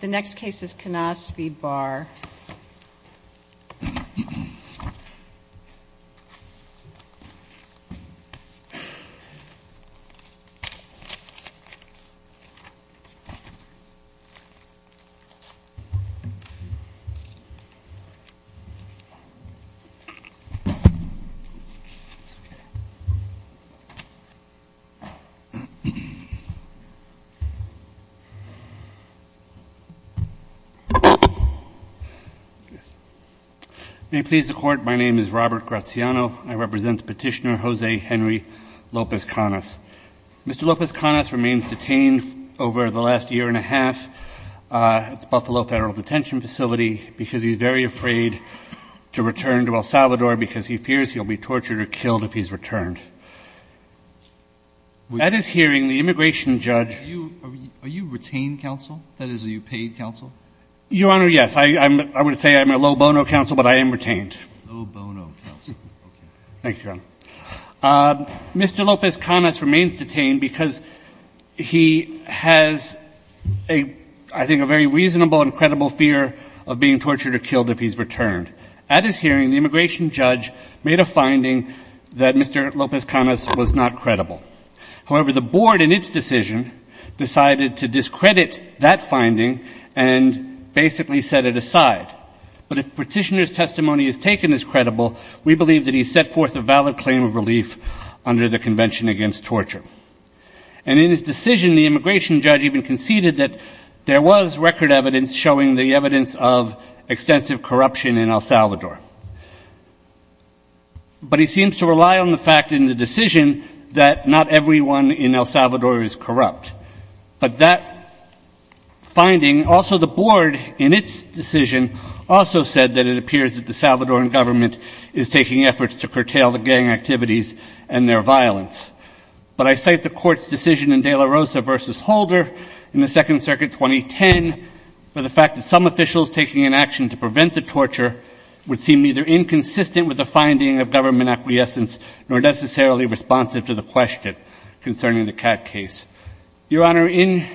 The next case is Canas v. Barr. May it please the Court, my name is Robert Graziano. I represent Petitioner Jose Henry Lopez Canas. Mr. Lopez Canas remains detained over the last year and a half at the Buffalo Federal Detention Facility because he's very afraid to return to El Salvador because he fears he'll be tortured or killed if he's returned. At his hearing, the immigration judge Are you retained counsel? That is, are you paid counsel? Your Honor, yes. I would say I'm a low-bono counsel, but I am retained. Low-bono counsel. Okay. Thank you, Your Honor. Mr. Lopez Canas remains detained because he has, I think, a very reasonable and credible fear of being tortured or killed if he's returned. At his hearing, the immigration judge made a finding that Mr. Lopez Canas was not credible. However, the Board, in its decision, decided to discredit that finding and basically set it aside. But if Petitioner's testimony is taken as credible, we believe that he set forth a valid claim of relief under the Convention Against Torture. And in his decision, the immigration judge even conceded that there was record evidence showing the evidence of extensive corruption in El Salvador. But he seems to rely on the fact in the decision that not everyone in El Salvador is corrupt. But that finding, also the Board, in its decision, also said that it appears that the Salvadoran government is taking efforts to curtail the gang activities and their violence. But I cite the Court's decision in De La Rosa v. Holder in the Second Circuit 2010 for the fact that some officials taking an action to prevent the torture would seem either inconsistent with the finding of government acquiescence nor necessarily responsive to the question concerning the Cat case. Your Honor, in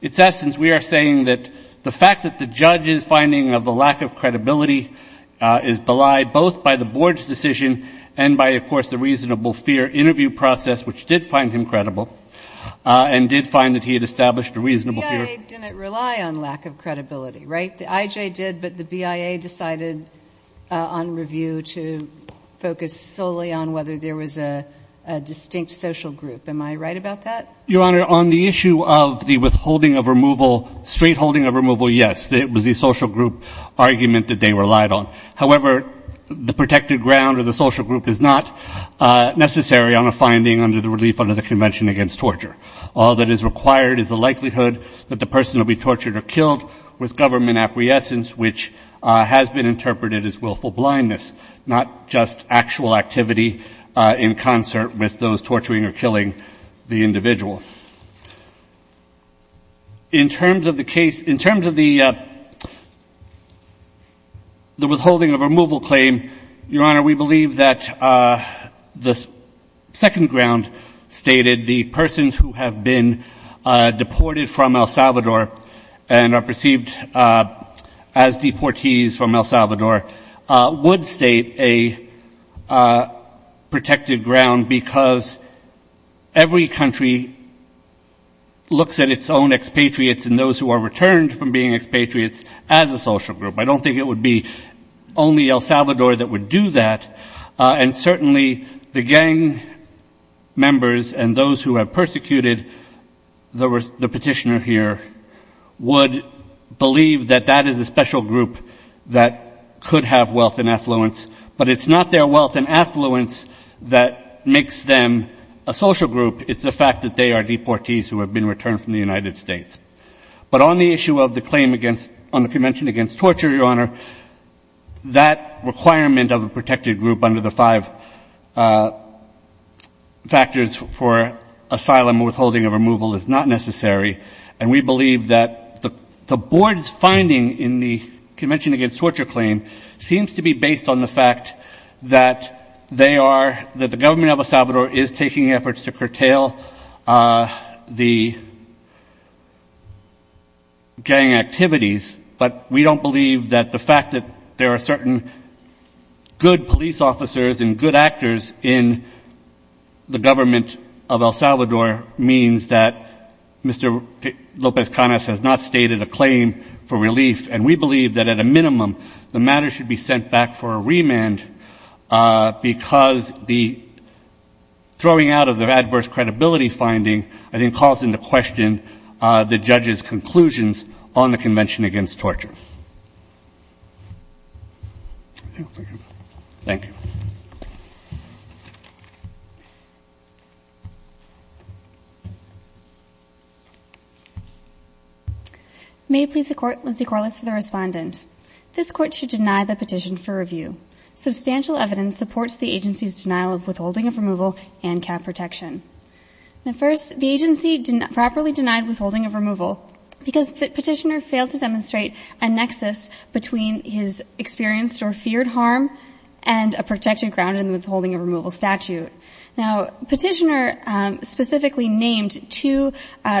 its essence, we are saying that the fact that the judge's finding of the lack of credibility is belied both by the Board's decision and by, of course, the reasonable fear interview process, which did find him credible and did find that he had established a reasonable fear. The BIA didn't rely on lack of credibility, right? The IJ did, but the BIA decided on review to focus solely on whether there was a distinct social group. Am I right about that? Your Honor, on the issue of the withholding of removal, straightholding of removal, yes, it was the social group argument that they relied on. However, the protected ground of the social group is not necessary on a finding under the relief under the Convention Against Torture. All that is required is the likelihood that the person will be tortured or killed with government acquiescence, which has been interpreted as willful blindness, not just actual activity in concert with those torturing or killing the individual. In terms of the case — in terms of the withholding of removal claim, Your Honor, we believe that the second ground stated, the persons who have been deported from El Salvador and are perceived as deportees from El Salvador, would state a protected ground because every country has a protected ground. It looks at its own expatriates and those who are returned from being expatriates as a social group. I don't think it would be only El Salvador that would do that. And certainly the gang members and those who have persecuted the petitioner here would believe that that is a special group that could have wealth and affluence. But it's not their wealth and affluence that makes them a social group. It's the fact that they are deportees who have been returned from the United States. But on the issue of the claim against — on the Convention Against Torture, Your Honor, that requirement of a protected group under the five factors for asylum and withholding of removal is not necessary. And we believe that the board's finding in the Convention Against Torture claim seems to be based on the fact that they are — that the government of El Salvador is taking efforts to curtail the gang activities. But we don't believe that the fact that there are certain good police officers and good actors in the government of El Salvador means that Mr. López-Canas has not stated a claim for relief. And we believe that, at a minimum, the matter should be sent back for a remand because the — throwing out of the adverse credibility finding, I think, calls into question the judge's conclusions on the Convention Against Torture. Thank you. May it please the Court, Lindsay Corliss for the respondent. This Court should deny the petition for review. Substantial evidence supports the agency's denial of withholding of removal and cap protection. Now, first, the agency properly denied withholding of removal because Petitioner failed to demonstrate a nexus between his experienced or feared harm and a protected ground in the withholding of removal statute. Now, Petitioner specifically named two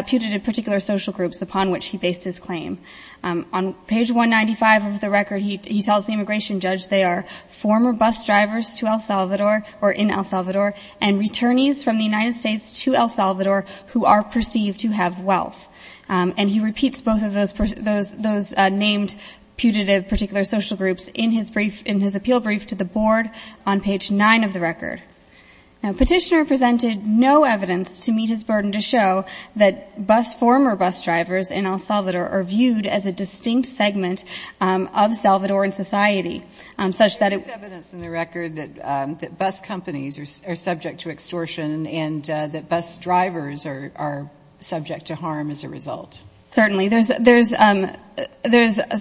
putative particular social groups upon which he based his claim. On page 195 of the record, he tells the immigration judge they are former bus drivers to El Salvador or in El Salvador and returnees from the United States to El Salvador who are perceived to have wealth. And he repeats both of those named putative particular social groups in his brief — in his appeal brief to the Board on page 9 of the record. Now, Petitioner presented no evidence to meet his burden to show that bus — former bus drivers in El Salvador are viewed as a distinct segment of Salvadoran society, such that it — There is evidence in the record that bus companies are subject to extortion and that bus drivers are subject to harm as a result. Certainly. There's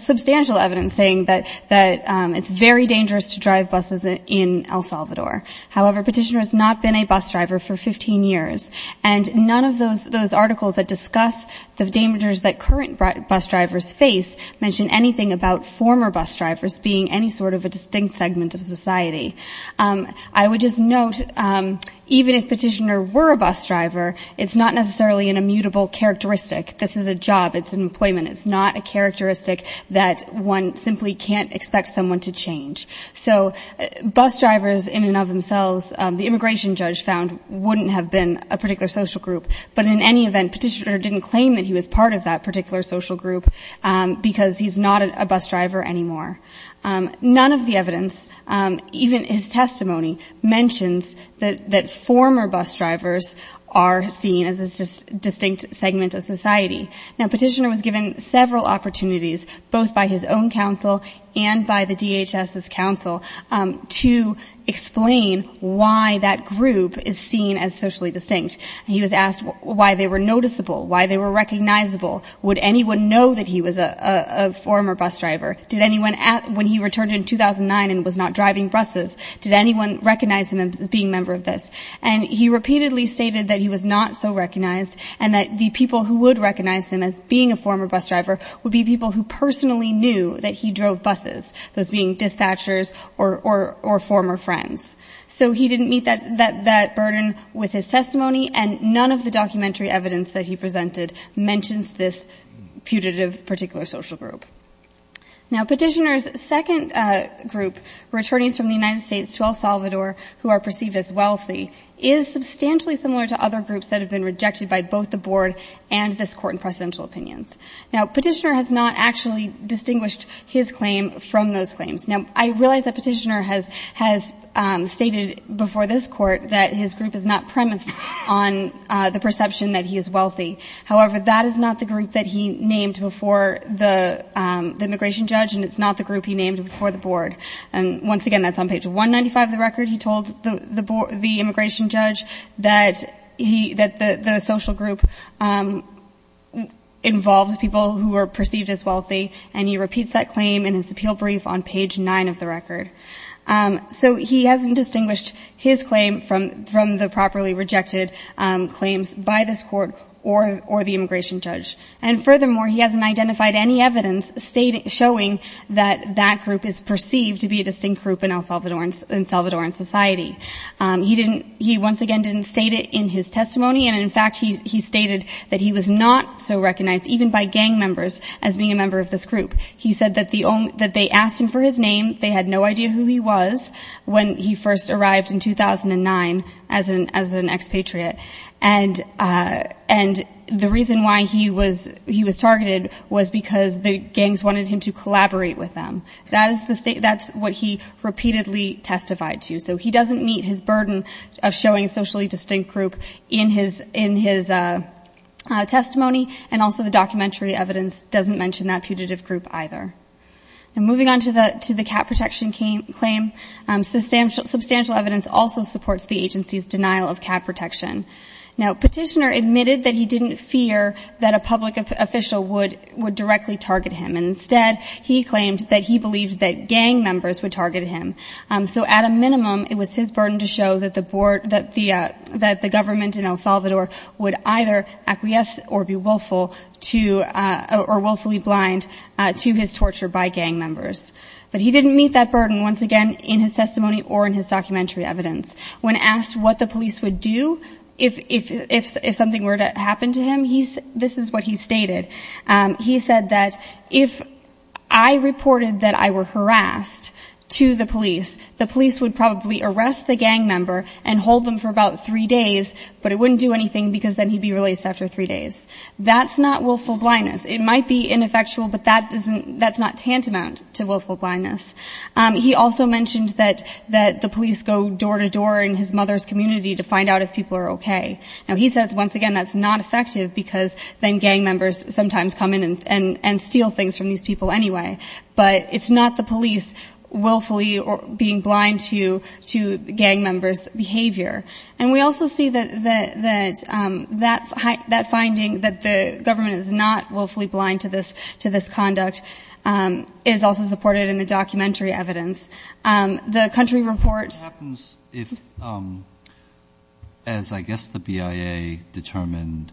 substantial evidence saying that it's very dangerous to drive buses in El Salvador. However, Petitioner has not been a bus driver for 15 years. And none of those articles that discuss the dangers that current bus drivers face mention anything about former bus drivers being any sort of a distinct segment of society. I would just note, even if Petitioner were a bus driver, it's not necessarily an immutable characteristic. This is a job. It's an employment. It's not a characteristic that one simply can't expect someone to change. So bus drivers in and of themselves, the immigration judge found, wouldn't have been a particular social group. But in any event, Petitioner didn't claim that he was part of that particular social group because he's not a bus driver anymore. None of the evidence, even his testimony, mentions that former bus drivers are seen as a distinct segment of society. Now, Petitioner was given several opportunities, both by his own counsel and by the DHS's counsel, to explain why that group is seen as socially distinct. He was asked why they were noticeable, why they were recognizable. Would anyone know that he was a former bus driver? Did anyone, when he returned in 2009 and was not driving buses, did anyone recognize him as being a member of this? And he repeatedly stated that he was not so recognized and that the people who would recognize him as being a former bus driver would be people who personally knew that he drove buses, those being dispatchers or former friends. So he didn't meet that burden with his testimony, and none of the documentary evidence that he presented mentions this putative particular social group. Now, Petitioner's second group, returnees from the United States to El Salvador who are perceived as wealthy, is substantially similar to other groups that have been rejected by both the Board and this Court in precedential opinions. Now, Petitioner has not actually distinguished his claim from those claims. Now, I realize that Petitioner has stated before this Court that his group is not premised on the perception that he is wealthy. However, that is not the group that he named before the immigration judge, and it's not the group he named before the Board. And once again, that's on page 195 of the record. He told the immigration judge that the social group involves people who are perceived as wealthy, and he repeats that claim in his appeal brief on page 9 of the record. So he hasn't distinguished his claim from the properly rejected claims by this Court or the immigration judge. And furthermore, he hasn't identified any evidence showing that that group is perceived to be a distinct group in El Salvadoran society. He once again didn't state it in his testimony, and in fact, he stated that he was not so recognized, even by gang members, as being a member of this group. He said that they asked him for his name. They had no idea who he was when he first arrived in 2009 as an expatriate. And the reason why he was targeted was because the gangs wanted him to collaborate with them. That's what he repeatedly testified to. So he doesn't meet his burden of showing a socially distinct group in his testimony, and also the documentary evidence doesn't mention that putative group either. And moving on to the cat protection claim, substantial evidence also supports the agency's denial of cat protection. Now, Petitioner admitted that he didn't fear that a public official would directly target him, and instead he claimed that he believed that gang members would target him. So at a minimum, it was his burden to show that the board, that the government in El Salvador would either acquiesce or be willful to, or willfully blind to his torture by gang members. But he didn't meet that burden, once again, in his testimony or in his documentary evidence. When asked what the police would do if something were to happen to him, this is what he stated. He said that if I reported that I were harassed to the police, the police would probably arrest the gang member and hold them for about three days, but it wouldn't do anything because then he'd be released after three days. That's not willful blindness. It might be ineffectual, but that's not tantamount to willful blindness. He also mentioned that the police go door to door in his mother's community to find out if people are okay. Now, he says, once again, that's not effective because then gang members sometimes come in and steal things from these people anyway. But it's not the police willfully being blind to gang members' behavior. And we also see that that finding, that the government is not willfully blind to this conduct, is also supported in the documentary evidence. The country reports- It happens if, as I guess the BIA determined,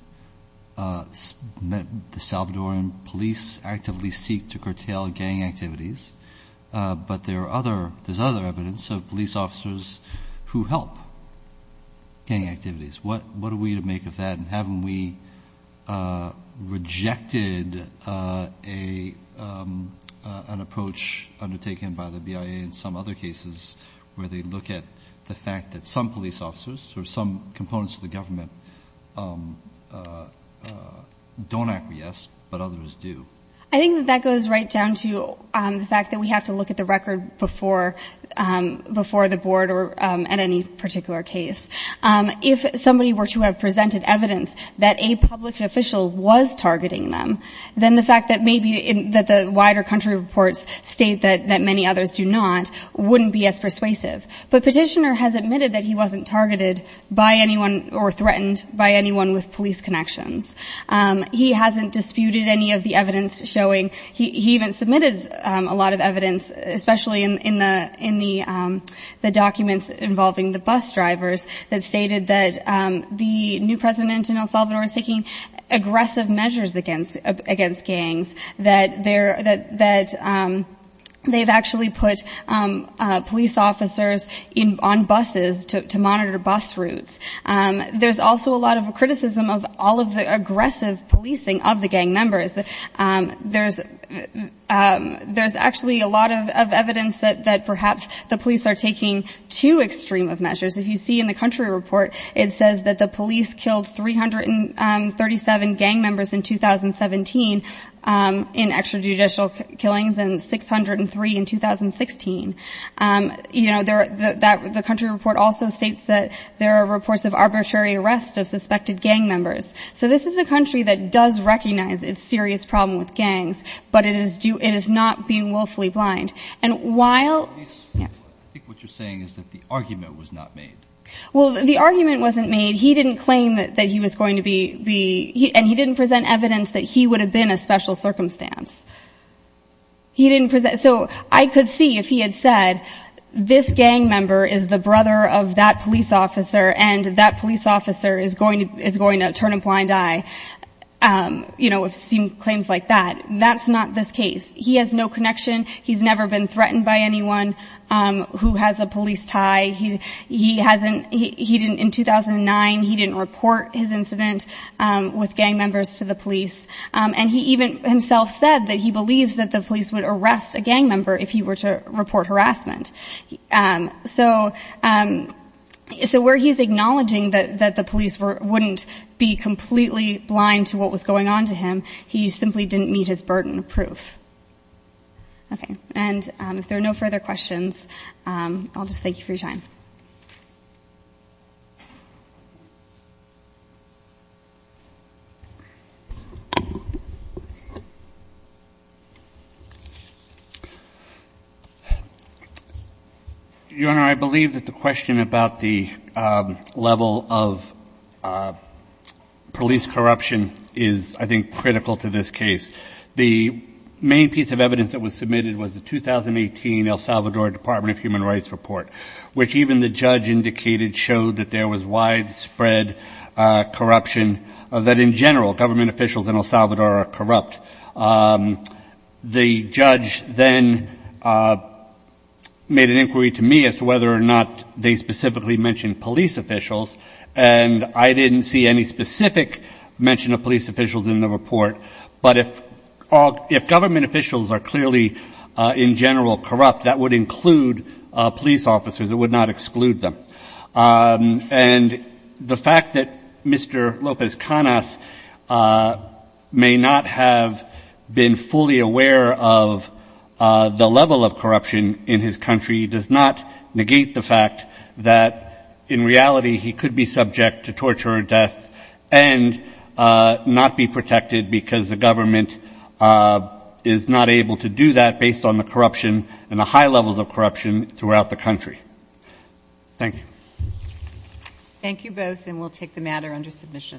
the Salvadoran police actively seek to curtail gang activities, but there's other evidence of police officers who help gang activities. What are we to make of that? And haven't we rejected an approach undertaken by the BIA in some other cases where they look at the fact that some police officers or some components of the government don't acquiesce, but others do? I think that that goes right down to the fact that we have to look at the record before the board or at any particular case. If somebody were to have presented evidence that a public official was targeting them, then the fact that maybe the wider country reports state that many others do not wouldn't be as persuasive. But Petitioner has admitted that he wasn't targeted by anyone or threatened by anyone with police connections. He hasn't disputed any of the evidence showing- that stated that the new president in El Salvador is taking aggressive measures against gangs, that they've actually put police officers on buses to monitor bus routes. There's also a lot of criticism of all of the aggressive policing of the gang members. There's actually a lot of evidence that perhaps the police are taking too extreme of measures. If you see in the country report, it says that the police killed 337 gang members in 2017 in extrajudicial killings and 603 in 2016. You know, the country report also states that there are reports of arbitrary arrests of suspected gang members. So this is a country that does recognize its serious problem with gangs, but it is not being willfully blind. I think what you're saying is that the argument was not made. Well, the argument wasn't made. He didn't claim that he was going to be- and he didn't present evidence that he would have been a special circumstance. So I could see if he had said, this gang member is the brother of that police officer and that police officer is going to turn a blind eye, you know, with claims like that. That's not this case. He has no connection. He's never been threatened by anyone who has a police tie. He hasn't- he didn't- in 2009 he didn't report his incident with gang members to the police. And he even himself said that he believes that the police would arrest a gang member if he were to report harassment. So where he's acknowledging that the police wouldn't be completely blind to what was going on to him, he simply didn't meet his burden of proof. Okay. And if there are no further questions, I'll just thank you for your time. Your Honor, I believe that the question about the level of police corruption is, I think, critical to this case. The main piece of evidence that was submitted was the 2018 El Salvador Department of Human Rights report, which even the judge indicated showed that there was widespread corruption, that in general government officials in El Salvador are corrupt. The judge then made an inquiry to me as to whether or not they specifically mentioned police officials, and I didn't see any specific mention of police officials in the report. But if government officials are clearly in general corrupt, that would include police officers. It would not exclude them. And the fact that Mr. Lopez Canas may not have been fully aware of the level of corruption in his country does not negate the fact that in reality he could be subject to torture and death and not be protected because the government is not able to do that based on the corruption and the high levels of corruption throughout the country. Thank you. Thank you both, and we'll take the matter under submission.